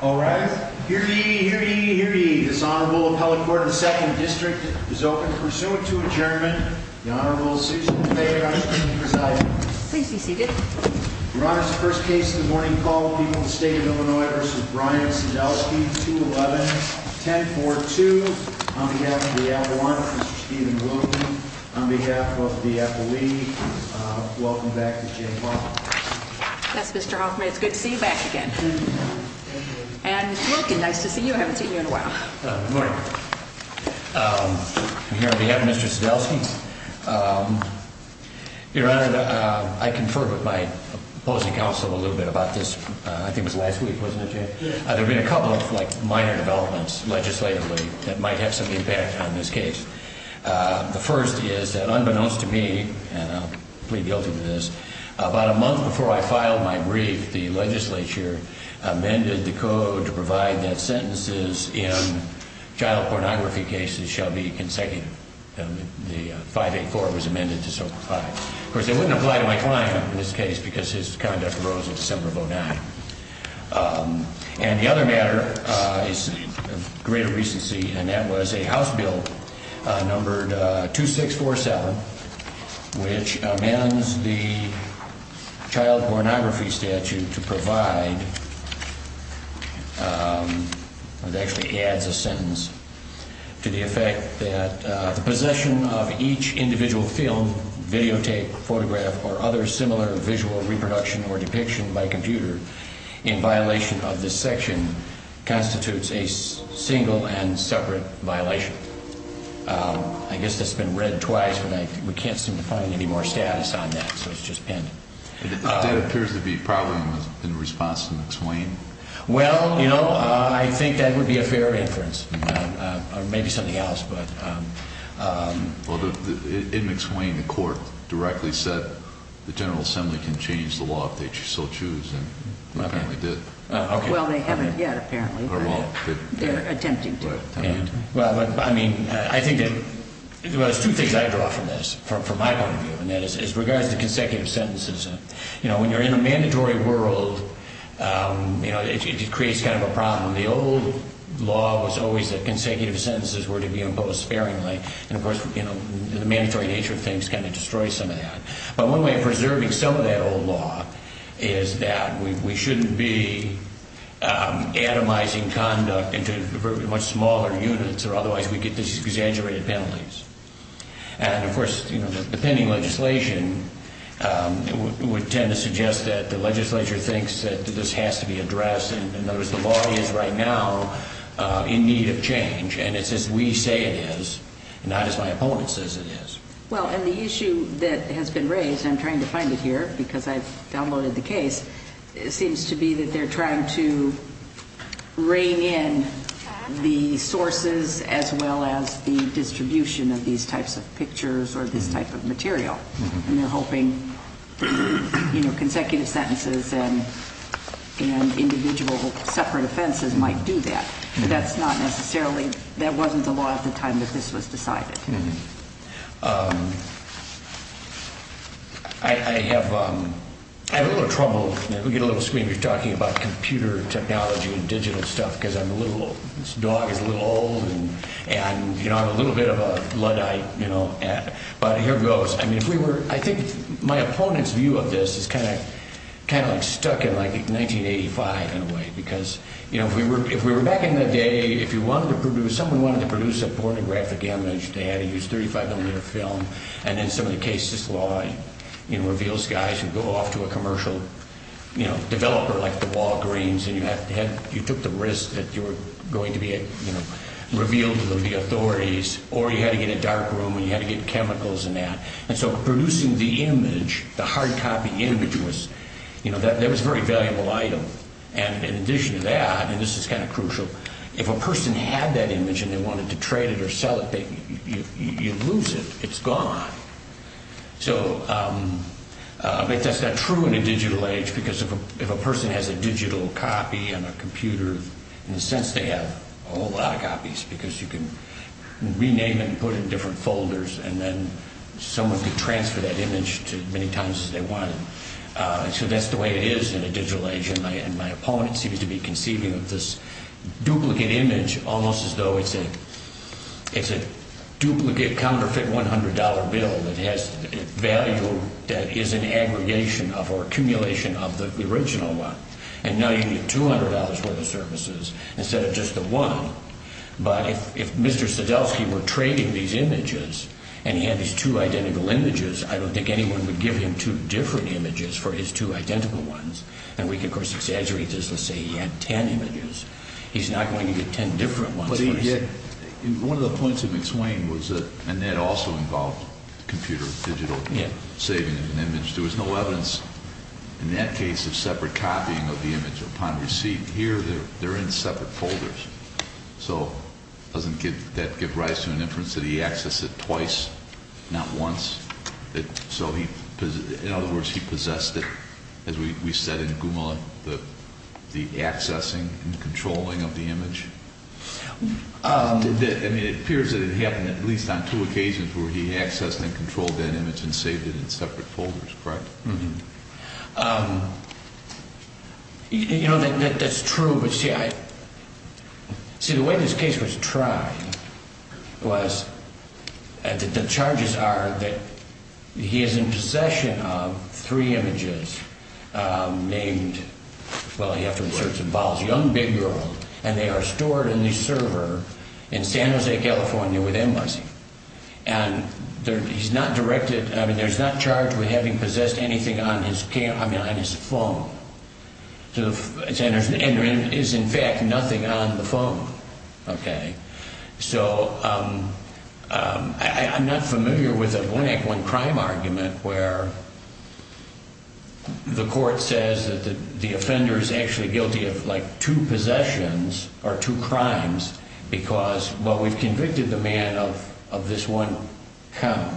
All right, here you hear you hear you dishonorable appellate court of the second district is open pursuant to adjournment. The Honorable Susan Bayer presiding. Please be seated. We're honest. First case in the morning called people in the state of Illinois versus Brian Sandowski to 11 10 42 on behalf of the one on behalf of the F. A. Welcome back to J. That's Mr Hoffman. It's good to see you back again. And it's nice to see you. I haven't seen you in a while. Here we have Mr Sadowski. Your Honor, I conferred with my opposing counsel a little bit about this. I think it was last week. Wasn't it? There's been a couple of minor developments legislatively that might have some impact on this case. The first is that, unbeknownst to me, and I plead guilty to this about a month before I filed my brief, the Legislature amended the code to provide that sentences in child pornography cases shall be consecutive. The 584 was amended to soak. Of course, they wouldn't apply to my client in this case because his conduct arose in December of oh nine. Um, and the other matter is greater recency. And that was a house bill numbered 2647, which amends the child pornography statute to provide actually adds a sentence to the effect that the possession of each individual film, videotape, photograph or other similar visual reproduction or depiction by computer in violation of this section constitutes a single and separate violation. I guess that's been read twice, but we can't seem to find any more status on that. So it's just been appears to be probably in response to explain. Well, you know, I think that would be a fair inference. Maybe something else. But, um, in McSwain, the court directly said the General Assembly can change the law if they still choose. And apparently did. Well, they haven't yet. Apparently they're attempting. Well, I mean, I think it was two things I draw from this from my point of view, and that is, as regards to consecutive sentences, you know, when you're in a mandatory world, um, you know, it creates kind of a problem. The old law was always that consecutive sentences were to be imposed sparingly. And, of course, you know, the mandatory nature of things kind of destroy some of that. But one way of preserving some of that old law is that we shouldn't be, um, atomizing conduct into much smaller units or otherwise we get this exaggerated penalties. And, of course, you know, the pending legislation, um, would tend to suggest that the legislature thinks that this has to be addressed. And in other words, the law is right now in need of change. And it's as we say it is not as my opponent says it is. Well, and the issue that has been raised, I'm trying to find it here because I've downloaded the case. It seems to be that they're trying to rein in the sources as well as the distribution of these types of pictures or this type of material, and they're hoping, you know, consecutive sentences and individual separate offenses might do that. That's not necessarily that wasn't a lot of the time that this was decided. Hmm. Um, I have a little trouble. We get a little screen. You're talking about computer technology and digital stuff because I'm a little dog is a little old and, you know, I'm a little bit of a Luddite, you know, but here goes. I mean, if we were, I think my opponent's view of this is kind of kind of stuck in like 1985 in a way, because, you know, if we were if we were back in the day, if you wanted to produce someone wanted to produce a pornographic image to have to use 35 millimeter film and then some of the cases law reveals guys who go off to a commercial, you know, developer like the Walgreens and you have to have you took the risk that you're going to be revealed to the authorities or you had to get a dark room and you had to get chemicals in that. And so producing the image, the hard copy image was, you know, that there was very valuable item. And in addition to that, and this is kind of crucial. If a person had that image and they wanted to trade it or sell it, you lose it. It's gone. So, um, but that's not true in a digital age, because if a person has a digital copy on a computer, in a sense, they have a whole lot of copies because you can rename and put in different folders and then someone could transfer that image to many times as they wanted. So that's the way it is in a digital age. And my opponent seems to be conceiving of this it's a duplicate counterfeit $100 bill that has value that is an aggregation of our accumulation of the original one. And now you get $200 worth of services instead of just the one. But if Mr Sadowski were trading these images and he had these two identical images, I don't think anyone would give him two different images for his two identical ones. And we could, of course, exaggerate this. Let's say he had 10 images. He's not going to get 10 different ones. But one of the points in between was that and that also involved computer digital saving an image. There was no evidence in that case of separate copying of the image upon receipt here. They're in separate folders, so doesn't give that give rise to an inference that he access it twice, not once. So he, in other words, he possessed it. As we said in Guma, the accessing and controlling of the image. Um, I mean, it appears that it happened at least on two occasions where he accessed and controlled that image and saved it in separate folders, correct? You know, that's true. But see, I see the way this case was trying was that the charges are that he is in possession of three images named. Well, you have to insert some balls, young, big girl, and they are stored in the server in San Jose, California with embassy. And he's not directed. I mean, there's not charged with having possessed anything on his camp. I mean, on his phone. So it's Anderson. Andrew is, in fact, nothing on the phone. Okay, so, um, I'm not familiar with a blank one crime argument where the court says that the offender is actually guilty of, like, two possessions or two crimes because what we've convicted the man of this one come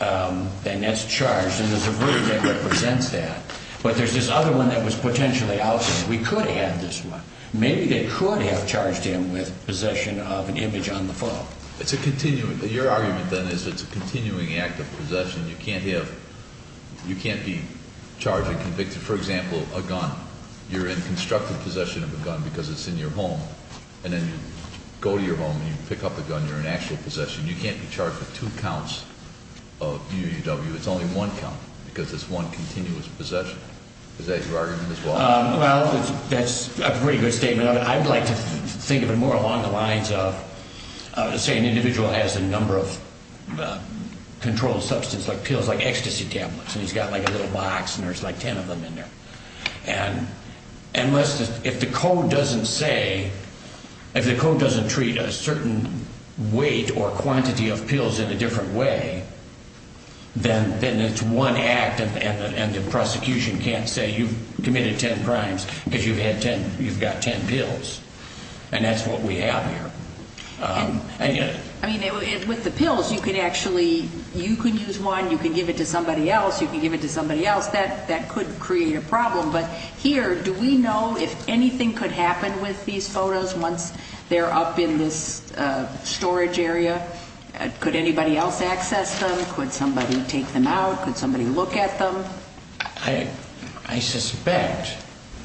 um, then that's charged. And there's a very good represents that. But there's this other one that was potentially out. We could have this one. Maybe they could have charged him with possession of an image on the phone. It's a continuing. Your argument, then, is it's a continuing act of possession. You can't have. You can't be charged and convicted. For example, a gun. You're in constructive possession of a gun because it's in your home and then go to your home and you pick up the gun. You're in actual possession. You can't be charged with two counts of UW. It's only one count because it's one continuous possession. Is that your argument as well? Well, that's a pretty good statement of it. I'd like to think of it more along the lines of say, an controlled substance like pills, like ecstasy tablets. And he's got like a little box and there's like 10 of them in there. And unless if the code doesn't say if the code doesn't treat a certain weight or quantity of pills in a different way, then then it's one active and the prosecution can't say you've committed 10 crimes because you've had 10. You've got 10 pills and that's what we have here. I mean, with the pills, you can actually, you can use one, you can give it to somebody else, you can give it to somebody else that that could create a problem. But here, do we know if anything could happen with these photos once they're up in this storage area? Could anybody else access them? Could somebody take them out? Could somebody look at them? I suspect,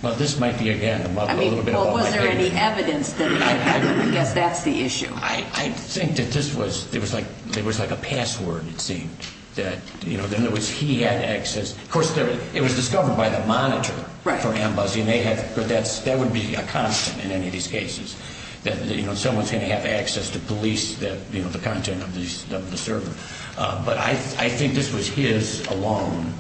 well, this might be a gathering. I mean, was there any evidence that I guess that's the issue. I think that this was, it was like, it was like a password. It seemed that, you know, then there was, he had access. Of course, it was discovered by the monitor for him, Buzzy, and they had, but that's, that would be a constant in any of these cases that, you know, someone's going to have access to police that, you know, the content of the server. But I think this was his alone.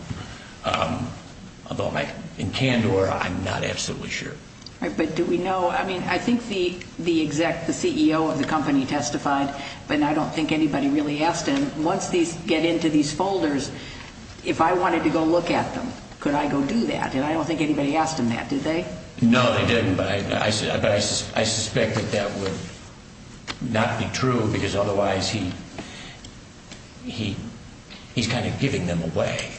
Although in Kandor, I'm not absolutely sure. But do we know, I mean, I think the, the exec, the CEO of the company testified, but I don't think anybody really asked him. Once these get into these folders, if I wanted to go look at them, could I go do that? And I don't think anybody asked him that, did they? No, they didn't. But I said, I suspect that that would not be true because otherwise he, he, he's kind of giving them away.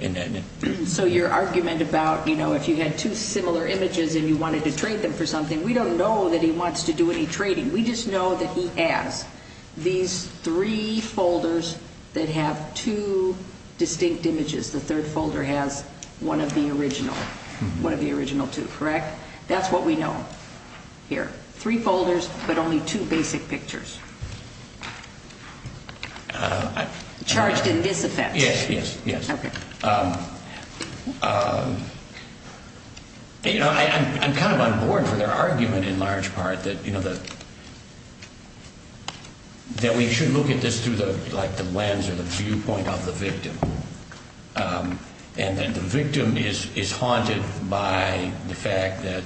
And so your argument about, you know, if you had two similar images and you wanted to trade them for something, we don't know that he wants to do any trading. We just know that he has these three folders that have two distinct images. The third folder has one of the original, one of the original two, correct? That's what we know here. Three folders, but only two basic pictures charged in disaffect. Yes, yes, yes. You know, I'm kind of on board for their argument in large part that, you know, that that we should look at this through the lens or the viewpoint of the victim. Um, and then the victim is haunted by the fact that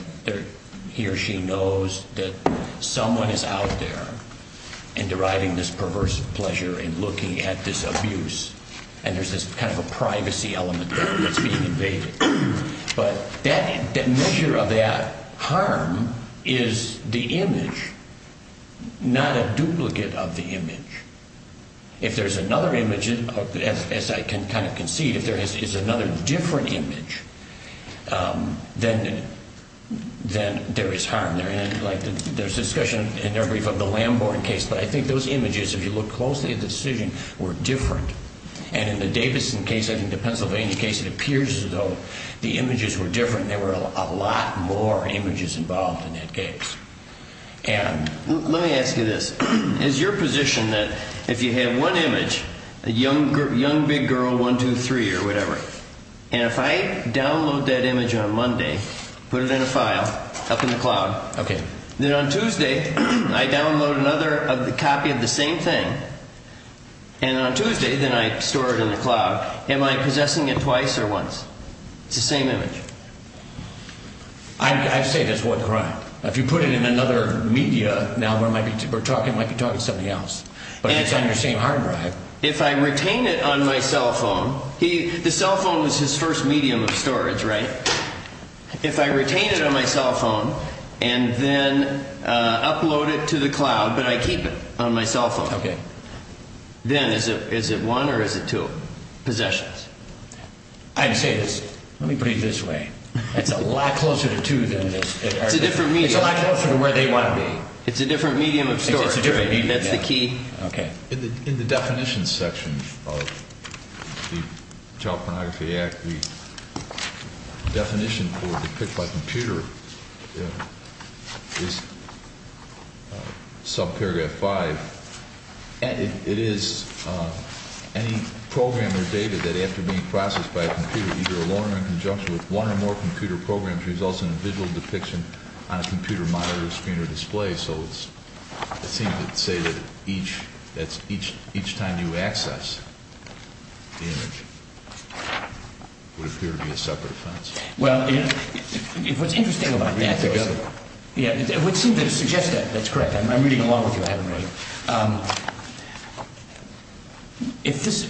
he or she knows that someone is out there and deriving this perverse pleasure and looking at this abuse. And there's this kind of a privacy element that's being invaded. But that measure of that harm is the image, not a duplicate of the image. If there's another image, as I can kind of concede, if there is another different image, then, then there is harm there. And like there's discussion in their brief of the Lamborn case, but I think those images, if you look closely at the decision, were different. And in the Davidson case, I think the Pennsylvania case, it appears as though the images were different. There were a lot more images involved in that case. And let me ask you this is your position that if you have one image, a young group, young, big girl, 1, 2, 3 or whatever. And if I download that image on Monday, put it in a file up in the cloud, then on Tuesday, I download another of the copy of the same thing. And on Tuesday, then I store it in the cloud. Am I possessing it twice or once? It's the same image. I'd say that's one crime. If you put it in another media, now we're talking like you're talking to somebody else, but it's on your same hard drive. If I retain it on my cell phone, the cell phone was his first medium of storage, right? If I retain it on my cell phone, and then upload it to the cloud, but I keep it on my cell phone. Okay. Then is it is it one or is it two possessions? I'd say this. Let me put it this way. It's a lot closer to than this. It's a different media. It's a lot closer to where they want to be. It's a different medium of storage. That's the key. Okay. In the definition section of the Child Pornography Act, the definition for the picked by computer is subparagraph five. And it is any program or data that after being processed by a computer, either alone or in conjunction with one or more computer programs results in a visual depiction on a computer monitor screen or display. So it's, it seems to say that each that's each each time you access the image would appear to be a separate offense. Well, what's interesting about that? Yeah, it would seem to suggest that that's correct. I'm reading along with you. I haven't read. If this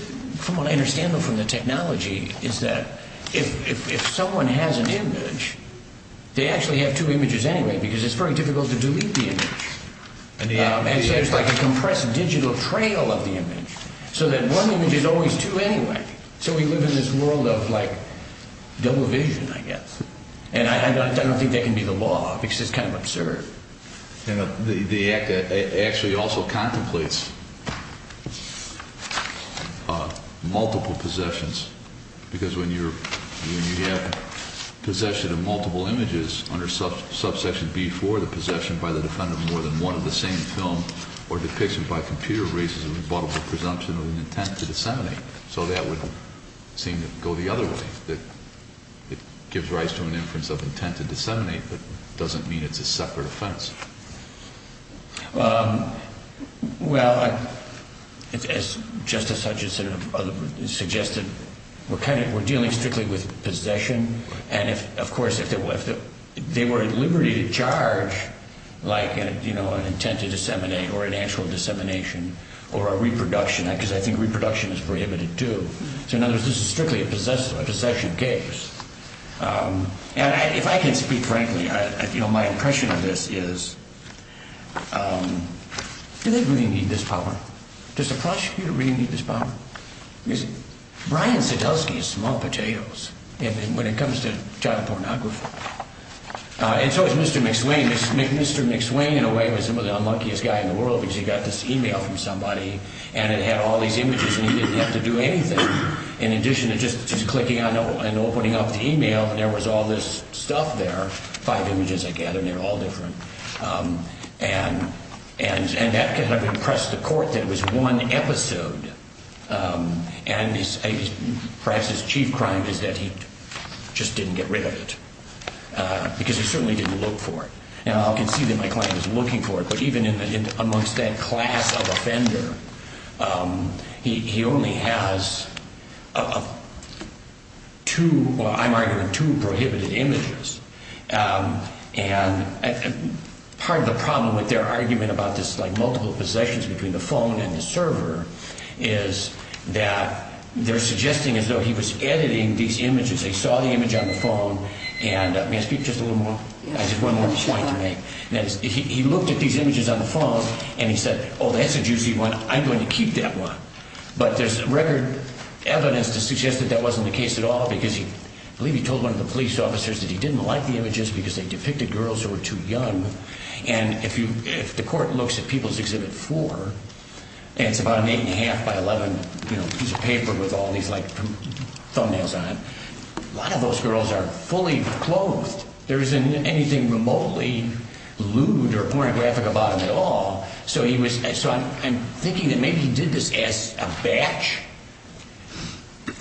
from what I understand from the technology is that if someone has an image, they actually have two images anyway, because it's very difficult to delete the image. And so it's like a compressed digital trail of the image. So that one image is always two anyway. So we live in this world of like, double vision, I guess. And I don't think that can be the law because it's kind of absurd. And the act actually also contemplates multiple possessions. Because when you're when you have possession of more than one of the same film, or depiction by computer raises a rebuttable presumption of an intent to disseminate. So that would seem to go the other way, that it gives rise to an inference of intent to disseminate, but doesn't mean it's a separate offense. Well, as Justice Hutchinson suggested, we're kind of we're dealing strictly with possession. And if, of course, if they were if they were at liberty to like, you know, an intent to disseminate or an actual dissemination, or a reproduction, because I think reproduction is prohibited, too. So in other words, this is strictly a possessive, a possession case. And if I can speak frankly, you know, my impression of this is do they really need this power? Does the prosecutor really need this power? Brian Sadowski is small potatoes, when it comes to child pornography. And so is Mr. McSwain. Mr. McSwain, in a way, was one of the unluckiest guy in the world, because he got this email from somebody, and it had all these images, and he didn't have to do anything. In addition to just clicking on and opening up the email, there was all this stuff there, five images, I gather, and they're all different. And, and, and that could have impressed the court that it was one episode. And perhaps his chief crime is that he just didn't get rid of it, because he certainly didn't look for it. Now, I can see that my client is looking for it, but even in amongst that class of offender, he only has two, I'm arguing two prohibited images. And part of the problem with their argument about this, like multiple possessions between the phone and the server, is that they're suggesting as though he was editing these images. They saw the image on the phone, and may I speak just a little more? I just one more point to make. He looked at these images on the phone, and he said, oh, that's a juicy one. I'm going to keep that one. But there's record evidence to suggest that that wasn't the case at all, because he, I believe he told one of the police officers that he didn't like the images because they depicted girls who were too young. And if you, if the court looks at People's Exhibit 4, it's about an eight and a half by 11, you know, piece of A lot of those girls are fully clothed. There isn't anything remotely lewd or pornographic about him at all. So he was, so I'm thinking that maybe he did this as a batch.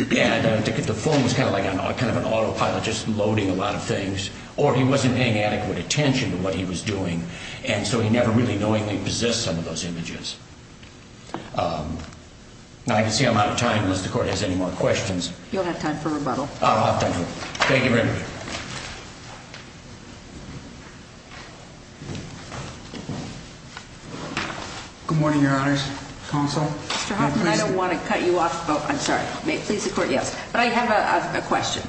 Yeah, I don't think the phone was kind of like a kind of an autopilot, just loading a lot of things, or he wasn't paying adequate attention to what he was doing. And so he never really knowingly possessed some of those images. I can see I'm out of time unless the court has any more questions. You'll have time for rebuttal. Thank you very much. Good morning, Your Honor's counsel. I don't want to cut you off. I'm sorry. Please support. Yes, but I have a question.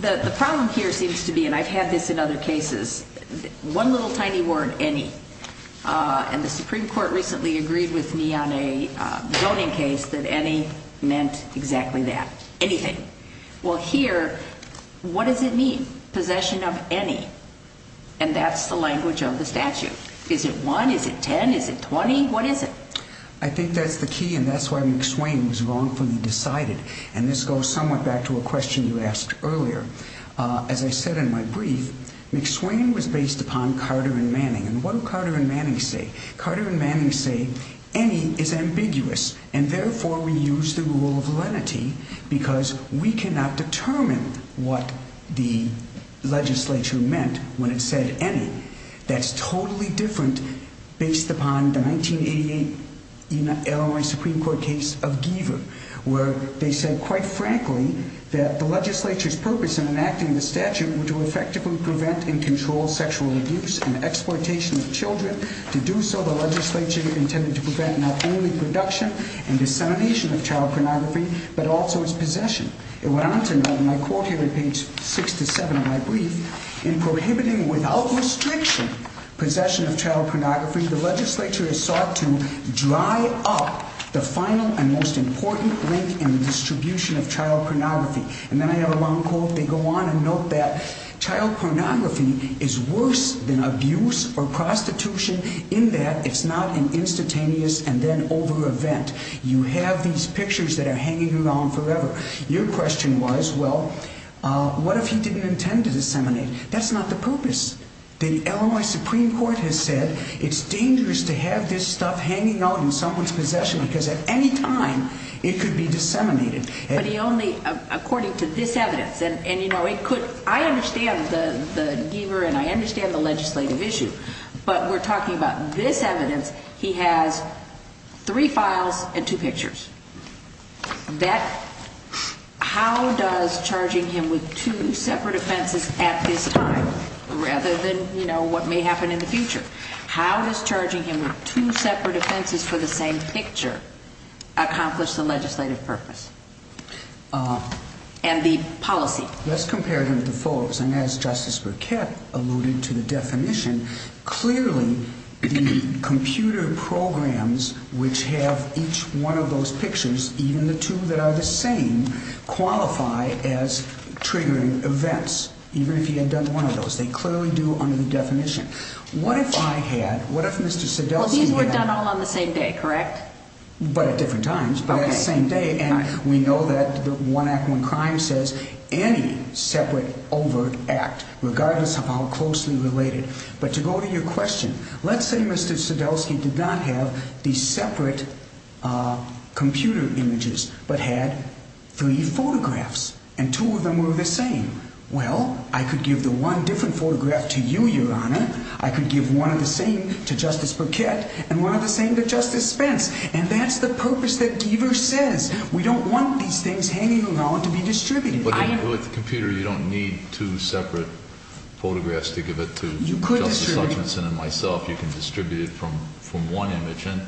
The problem here seems to be and I've had this in other cases. One little tiny word any on the Supreme Court recently agreed with me on a zoning case that any meant exactly that anything. Well, here, what does it mean? Possession of any? And that's the language of the statute. Is it one? Is it 10? Is it 20? What is it? I think that's the key. And that's why McSwain was wrongfully decided. And this goes somewhat back to a question you asked earlier. As I said in my brief, McSwain was based upon Carter and Manning and what Carter and Manning say. Carter and ambiguous. And therefore we use the rule of validity because we cannot determine what the legislature meant when it said any. That's totally different based upon the 1988 L. A. Supreme Court case of Giver, where they said quite frankly that the legislature's purpose in enacting the statute to effectively prevent and control sexual abuse and exploitation of Children. To do so, the legislature intended to prevent not only reduction and dissemination of child pornography, but also its possession. It went on to my court here in page 6 to 7 of my brief in prohibiting without restriction possession of child pornography. The legislature is sought to dry up the final and most important link in the distribution of child pornography. And then I have a long quote. They go on and note that child pornography is worse than abuse or prostitution in that it's not an event. You have these pictures that are hanging around forever. Your question was, well, what if he didn't intend to disseminate? That's not the purpose. The L. A. Supreme Court has said it's dangerous to have this stuff hanging out in someone's possession because at any time it could be disseminated. But he only according to this evidence and you know, it could. I understand the Giver and I understand the legislative issue, but we're talking about this evidence. He has three files and two pictures that how does charging him with two separate offenses at this time rather than you know what may happen in the future? How does charging him with two separate offenses for the same picture accomplish the legislative purpose? Uh, and the policy. Let's compare him to folks. And as Justice Burkett alluded to the definition, clearly the computer programs which have each one of those pictures, even the two that are the same qualify as triggering events. Even if he had done one of those, they clearly do under the definition. What if I had? What if Mr Sedell? These were done all on the same day, correct? But at different times, but at the same day. And we know that the one act, crime says any separate over act regardless of how closely related. But to go to your question, let's say Mr Sedell ski did not have these separate computer images but had three photographs and two of them were the same. Well, I could give the one different photograph to you, Your Honor. I could give one of the same to Justice Burkett and one of the same that Justice Spence. And that's the purpose that Giver says. We don't want these things hanging around to be distributed with the computer. You don't need two separate photographs to give it to. You could, Mr Hutchinson and myself. You can distribute it from from one image. And,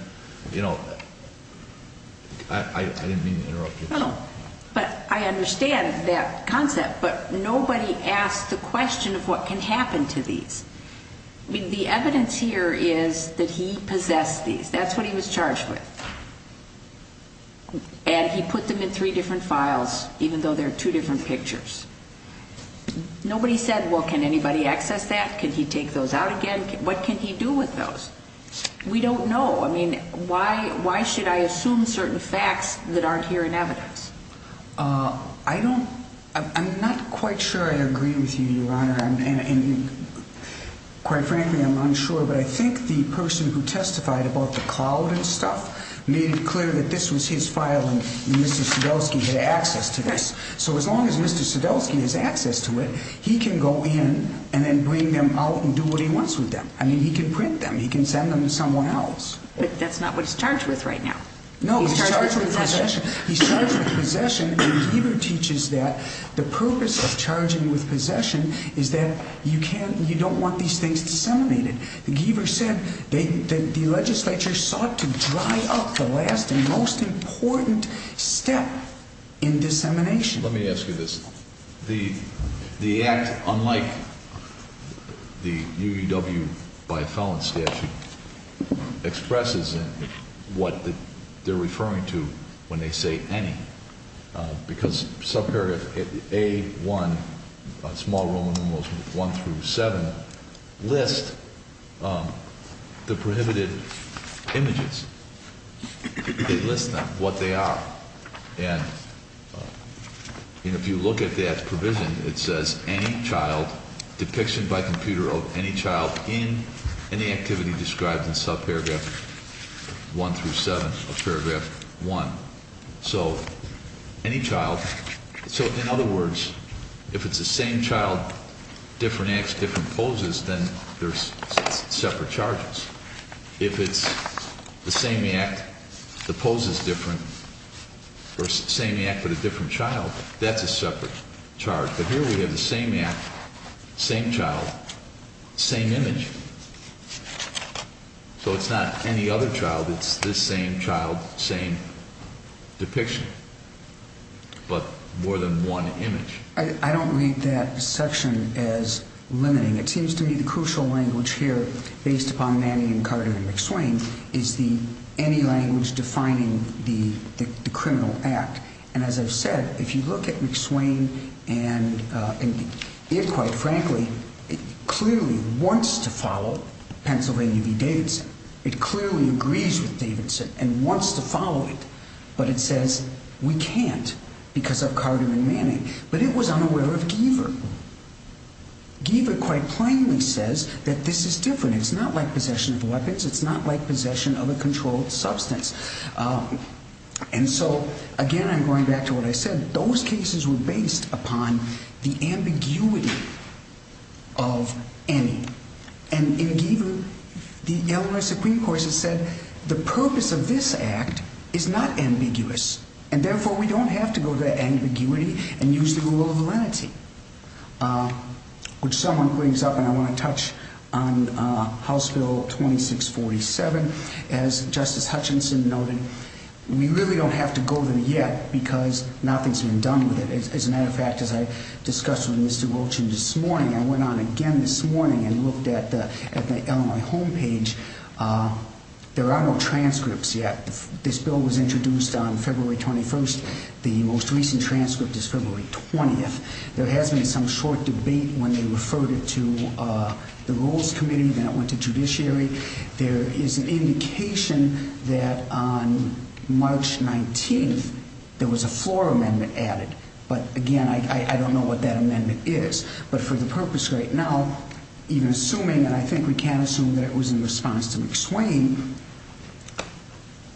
you know, I didn't mean to interrupt you, but I understand that concept. But nobody asked the question of what can happen to these. The evidence here is that he possessed these. That's what he was charged with. And he put them in three different files, even though there are two different pictures. Nobody said, Well, can anybody access that? Can he take those out again? What can he do with those? We don't know. I mean, why? Why should I assume certain facts that aren't here in evidence? Uh, I don't. I'm not quite sure. I agree with you, Your Honor. And quite frankly, I'm unsure. But I think the person who testified about the that this was his file and Mr Sadowski had access to this. So as long as Mr Sadowski has access to it, he can go in and then bring them out and do what he wants with them. I mean, he can print them. He can send them to someone else. But that's not what he's charged with right now. No, he's charged with possession. He's charged with possession. Giver teaches that the purpose of charging with possession is that you can't. You don't want these things disseminated. The Giver said the legislature sought to dry up the last most important step in dissemination. Let me ask you this. The the act, unlike the UW by a felon statute expresses what they're referring to when they say any because some period a one small room almost one through seven list, um, the prohibited images they list them what they are. And if you look at that provision, it says any child depiction by computer of any child in any activity described in sub paragraph one through seven of paragraph one. So any child. So in other words, if it's the same child, different acts, different poses, then there's separate charges. If it's the same act, the poses different versus same act with a different child, that's a separate charge. But here we have the same act, same child, same image. So it's not any other child. It's the same child, same depiction, but more than one image. I don't read that section as limiting. It seems to me the crucial language here based upon Manny and Carter and McSwain is the any language defining the criminal act. And as I've said, if you look at McSwain and it quite frankly, it clearly wants to follow Pennsylvania v Davidson. It we can't because of Carter and Manning. But it was unaware of Giver. Giver quite plainly says that this is different. It's not like possession of weapons. It's not like possession of a controlled substance. Um, and so again, I'm going back to what I said. Those cases were based upon the ambiguity of any. And in Giver, the Illinois Supreme Court has said the purpose of this act is not ambiguous and therefore we don't have to go to ambiguity and use the rule of validity. Which someone brings up and I want to touch on House Bill 26 47 as Justice Hutchinson noted. We really don't have to go there yet because nothing's been done with it. As a matter of fact, as I discussed with Mr Wilton this morning, I went on again this morning and looked at the Illinois homepage. Uh, there are no transcripts yet. This bill was introduced on February 21st. The most recent transcript is February 20th. There has been some short debate when they referred it to the rules committee that went to judiciary. There is an indication that on March 19 there was a floor amendment added. But again, I don't know what that amendment is. But for the purpose right now, even assuming that it was in response to McSwain,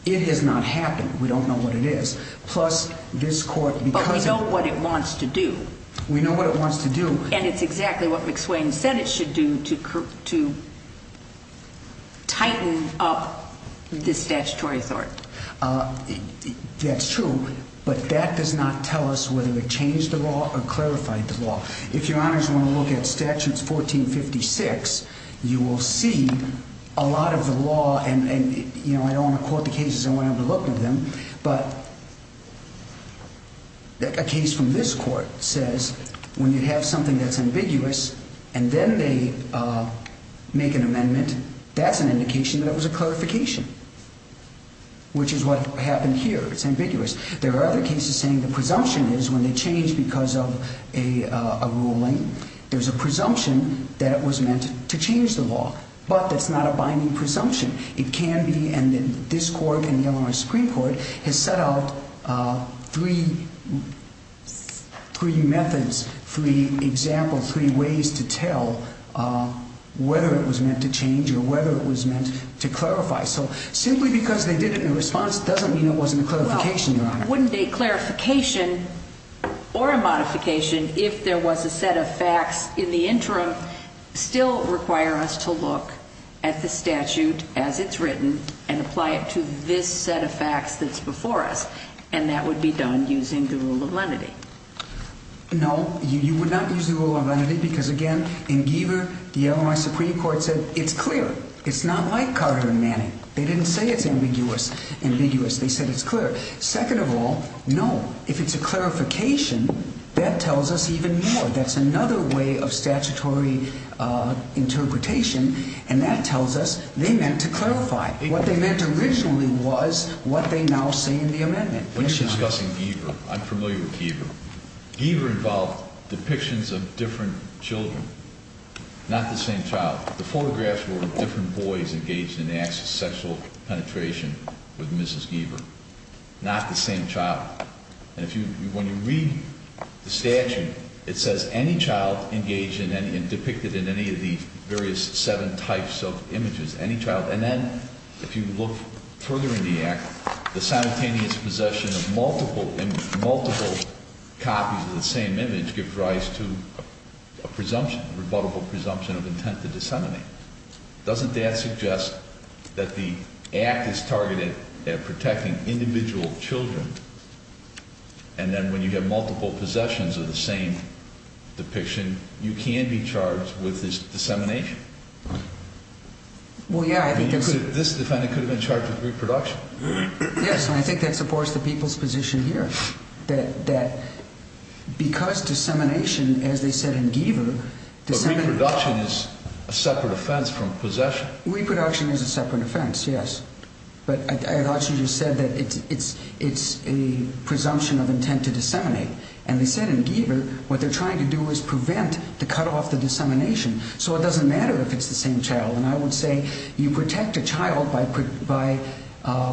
it has not happened. We don't know what it is. Plus this court, we know what it wants to do. We know what it wants to do. And it's exactly what McSwain said it should do to to tighten up this statutory authority. Uh, that's true. But that does not tell us whether it changed the law or clarified the law. If your honors want to look at see a lot of the law and you know, I don't want to quote the cases. I want to have a look at them. But a case from this court says when you have something that's ambiguous and then they make an amendment, that's an indication that it was a clarification, which is what happened here. It's ambiguous. There are other cases saying the presumption is when they change because of a ruling, there's a but that's not a binding presumption. It can be. And this court and the L. R. Supreme Court has set out three three methods, three examples, three ways to tell whether it was meant to change or whether it was meant to clarify. So simply because they did it in response doesn't mean it wasn't a clarification. Wouldn't a clarification or a modification if there was a set of facts in the interim still require us to look at the statute as it's written and apply it to this set of facts that's before us and that would be done using the rule of lenity? No, you would not use the rule of lenity because again in Giver, the L. R. Supreme Court said it's clear. It's not like Carter and Manning. They didn't say it's ambiguous, ambiguous. They said it's clear. Second of all, no. If it's a clarification that tells us even more, that's another way of statutory interpretation. And that tells us they meant to clarify what they meant originally was what they now say in the amendment. When discussing Giver, I'm familiar with Giver. Giver involved depictions of different Children, not the same child. The photographs were different boys engaged in the acts of sexual penetration with Mrs Giver, not the same child. And if you when you read the statute, it says any child engaged in any and depicted in any of the various seven types of images, any child. And then if you look further in the act, the simultaneous possession of multiple multiple copies of the same image gives rise to a presumption, rebuttable presumption of intent to disseminate. Doesn't that suggest that the act is targeted at protecting individual Children? And then when you get multiple possessions of the same depiction, you can be charged with this dissemination. Well, yeah, I think this defendant could have been charged with reproduction. Yes, I think that supports the people's position here that that because dissemination, as they said in Giver, the same reduction is a separate offense from possession. Reproduction is a separate offense. Yes. But I thought you just said that it's it's it's a presumption of intent to disseminate. And they said in Giver what they're trying to do is prevent to cut off the dissemination. So it doesn't matter if it's the same child. And I would say you protect a child by by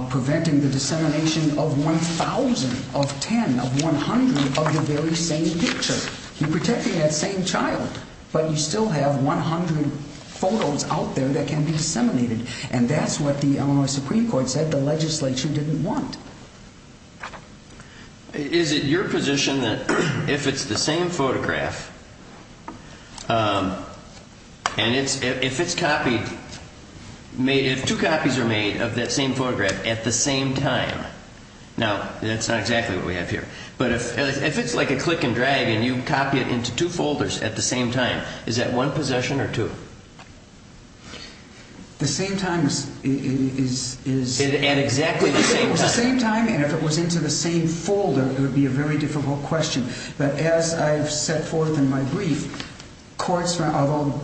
preventing the dissemination of 1000 of 10 of 100 of the very same picture. You're protecting that same child, but you still have 100 photos out there that can be disseminated. And that's what the Illinois Supreme Court said the legislature didn't want. Is it your position that if it's the same photograph, and it's if it's copied, made it two copies are made of that same photograph at the same time. Now, that's not exactly what we have here. But if it's like a click and drag and you copy it into two folders at the same time, is that one possession or two? The same time is is and exactly the same time. And if it was into the same folder, it would be a very difficult question. But as I've set forth in my brief courts, although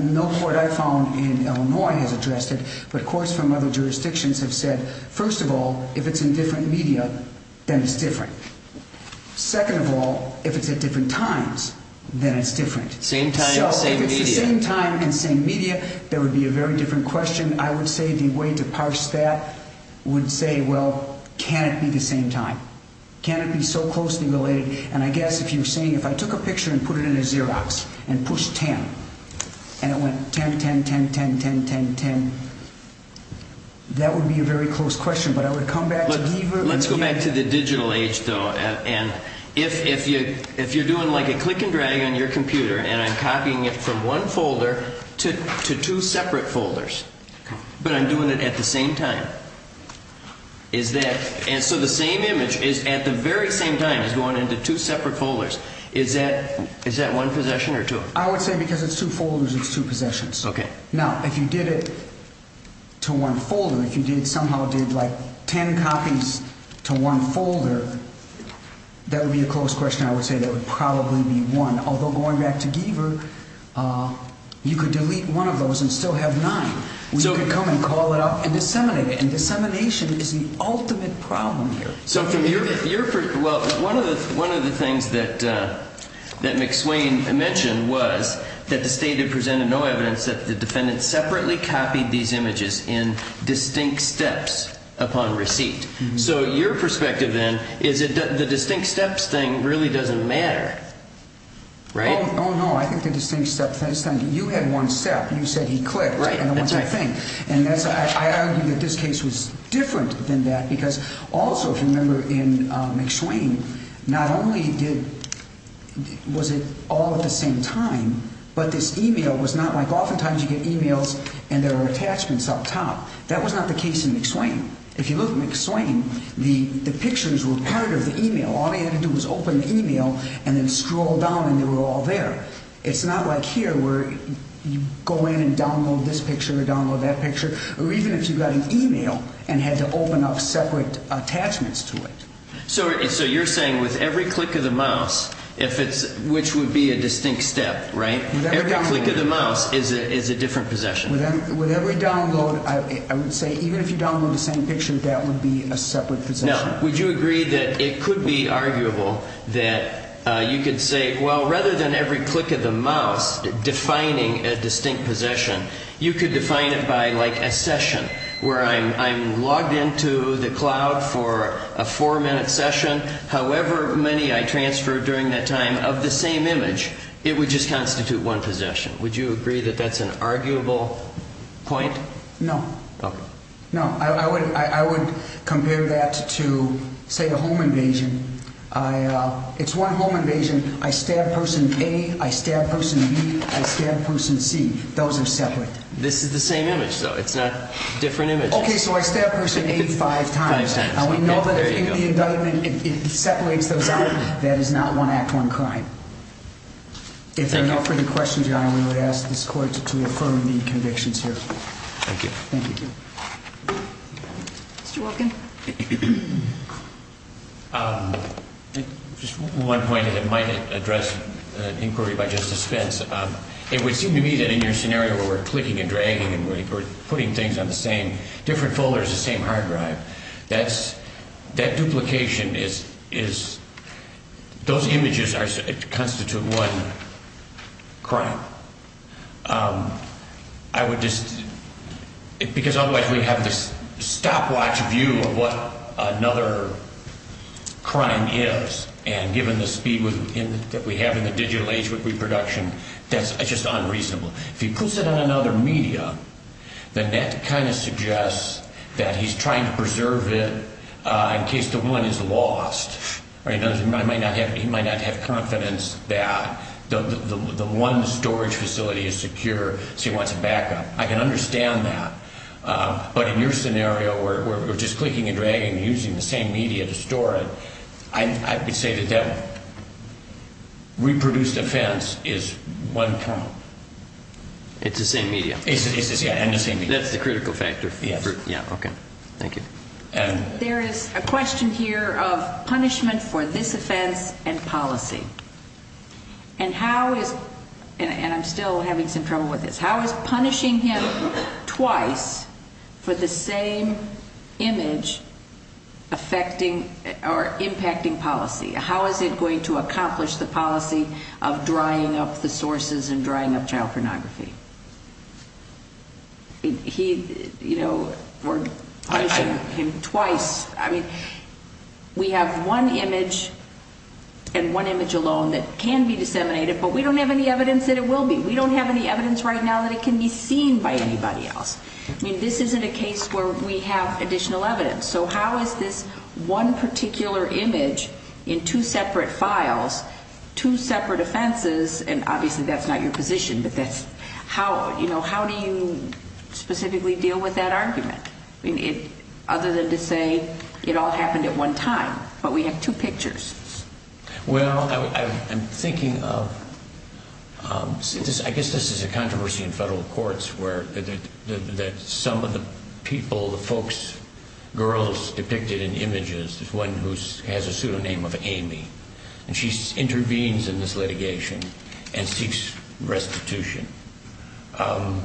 no court I found in Illinois has addressed it, but courts from other jurisdictions have said, First of all, if it's in different media, then it's different. Second of all, if it's at different times, then it's different. Same time, same time and same media. There would be a very different question. I would say the way to parse that would say, well, can it be the same time? Can it be so closely related? And I guess if you're saying if I took a picture and put it in a Xerox and push 10 and it went 10 10 10 10 10 10 10, that would be a very close question. But I would come back. Let's go back to the digital age, though. And if if you if you're doing like a click and drag on your computer and I'm copying it from one folder to two separate folders, but I'm doing it at the same time. Is that so? The same image is at the very same time is going into two separate folders. Is that is that one possession or two? I would say because it's two folders, it's two possessions. Now, if you did it to one folder, if you did somehow did like 10 copies to one folder, that would be a close question. I would say that would probably be one, although going back to Giver, uh, you could delete one of those and still have nine. So come and call it up and disseminate it. And dissemination is the ultimate problem here. So from here, you're well, one of the one of the things that that McSwain mentioned was that the state had presented no evidence that the steps upon receipt. So your perspective, then, is that the distinct steps thing really doesn't matter, right? Oh, no, I think the distinct stuff has time. You had one step. You said he clicked, right? And that's my thing. And that's I argue that this case was different than that. Because also, if you remember in McSwain, not only did was it all at the same time, but this email was not like oftentimes you get emails and there are case in McSwain. If you look McSwain, the pictures were part of the email. All they had to do was open the email and then scroll down and they were all there. It's not like here where you go in and download this picture or download that picture. Or even if you got an email and had to open up separate attachments to it. So you're saying with every click of the mouse, if it's which would be a distinct step, right? Every click of the mouse is a different possession. With every download, I would say, even if you download the same picture, that would be a separate position. Would you agree that it could be arguable that you could say, well, rather than every click of the mouse, defining a distinct possession, you could define it by like a session where I'm I'm logged into the cloud for a four minute session. However many I transfer during that time of the same image, it would just constitute one possession. Would you agree that that's an arguable point? No, no, I would. I would compare that to, say, a home invasion. I, uh, it's one home invasion. I stabbed person. I stabbed person. I stabbed person. See, those are separate. This is the same image, so it's not different image. Okay, so I stabbed person 85 times and we know that in the indictment, it separates those out. That is not one act. One of the convictions here. Thank you. Thank you. Mr Welcome. Um, just one point that might address inquiry by Justice Spence. It would seem to me that in your scenario where we're clicking and dragging and we're putting things on the same different folders, the same hard drive. That's I would just because otherwise we have this stopwatch view of what another crime is. And given the speed within that we have in the digital age with reproduction, that's just unreasonable. If you put it on another media, then that kind of suggests that he's trying to preserve it in case the one is lost. He might not have confidence that the one storage facility is secure. So I can understand that. But in your scenario, we're just clicking and dragging, using the same media to store it. I would say the devil reproduced offense is one problem. It's the same media. That's the critical factor. Yeah. Okay. Thank you. There is a question here of punishment for this offense and policy. And how is and I'm still having some trouble with this. How is punishing him twice for the same image affecting our impacting policy? How is it going to accomplish the policy of drying up the sources and drying up child pornography? He, you know, we're punishing him twice. I mean, we have one image and one image alone that can be disseminated, but we don't have any evidence that it will be. We don't have any evidence right now that it can be seen by anybody else. I mean, this isn't a case where we have additional evidence. So how is this one particular image in two separate files, two separate offenses? And obviously that's not your position, but that's how you know, how do you specifically deal with that argument? Other than to say it all happened at one time, but we have two pictures. Well, I'm thinking of, um, I guess this is a controversy in federal courts where that some of the people, the folks, girls depicted in images is one who has a pseudonym of Amy and she intervenes in this litigation and seeks restitution. Um,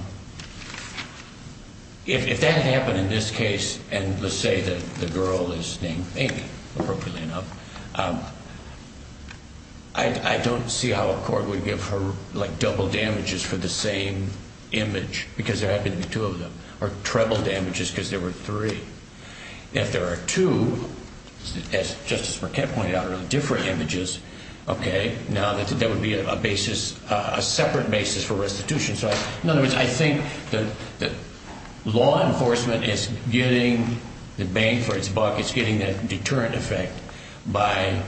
if that happened in this case, and let's say that the girl is named Amy appropriately enough. Um, I don't see how a court would give her like double damages for the same image because there have been two of them or treble damages because there were three. If there are two, as Justice Marquette pointed out, are different images. Okay, now that would be a basis, a separate basis for restitution. So in other words, I think that law enforcement is getting the bang for its buck. It's getting that deterrent effect by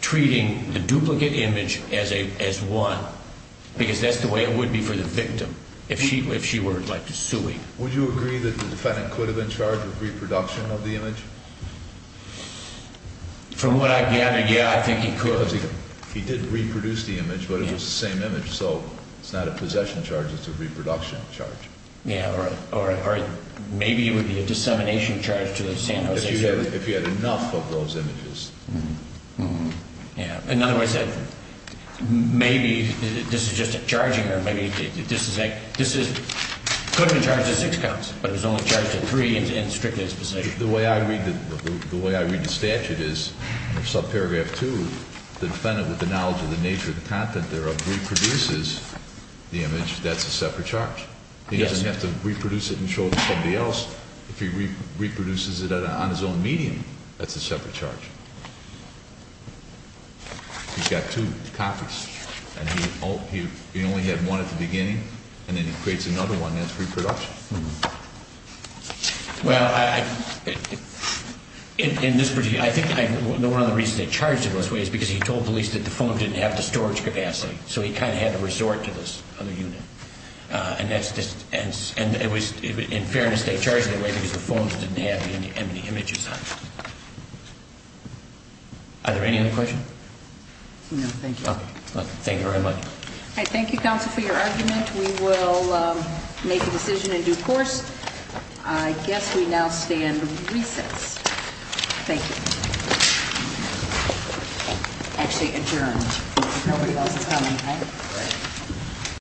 treating the duplicate image as a as one because that's the way it would be for the victim. If she, if she were like to suing, would you agree that the defendant could have been charged with reproduction of the image from what I gather? Yeah, I think he could. He didn't reproduce the image, but it was the same image. So it's not a possession charge. It's a reproduction charge. Yeah. All right. All right. Maybe it would be a dissemination charge to the San Jose if you had enough of those images. Yeah. In other words, maybe this is just a charging or maybe this is like this is couldn't charge the six counts, but it was only charged to three and strictly specific. The way I read the way I read the statute is sub paragraph two. The defendant with the knowledge of the nature of the content thereof reproduces the image. That's a separate charge. He doesn't have to reproduce it and show somebody else if he reproduces it on his own medium. That's a separate charge. He's got two copies and he only had one at the beginning and then it creates another one. That's reproduction. Mhm. Well, I in this pretty, I think one of the reasons they charged in this way is because he told police that the phone didn't have the storage capacity. So he kind of had to resort to this other unit. Uh, and that's just and and it was in fairness. They charged that way because the phones didn't have any images. Are there any other questions? No, thank you. Thank you very much. I thank you counsel for your argument. We will make a decision in due course. I guess we now stand recess. Thank you. Actually adjourned.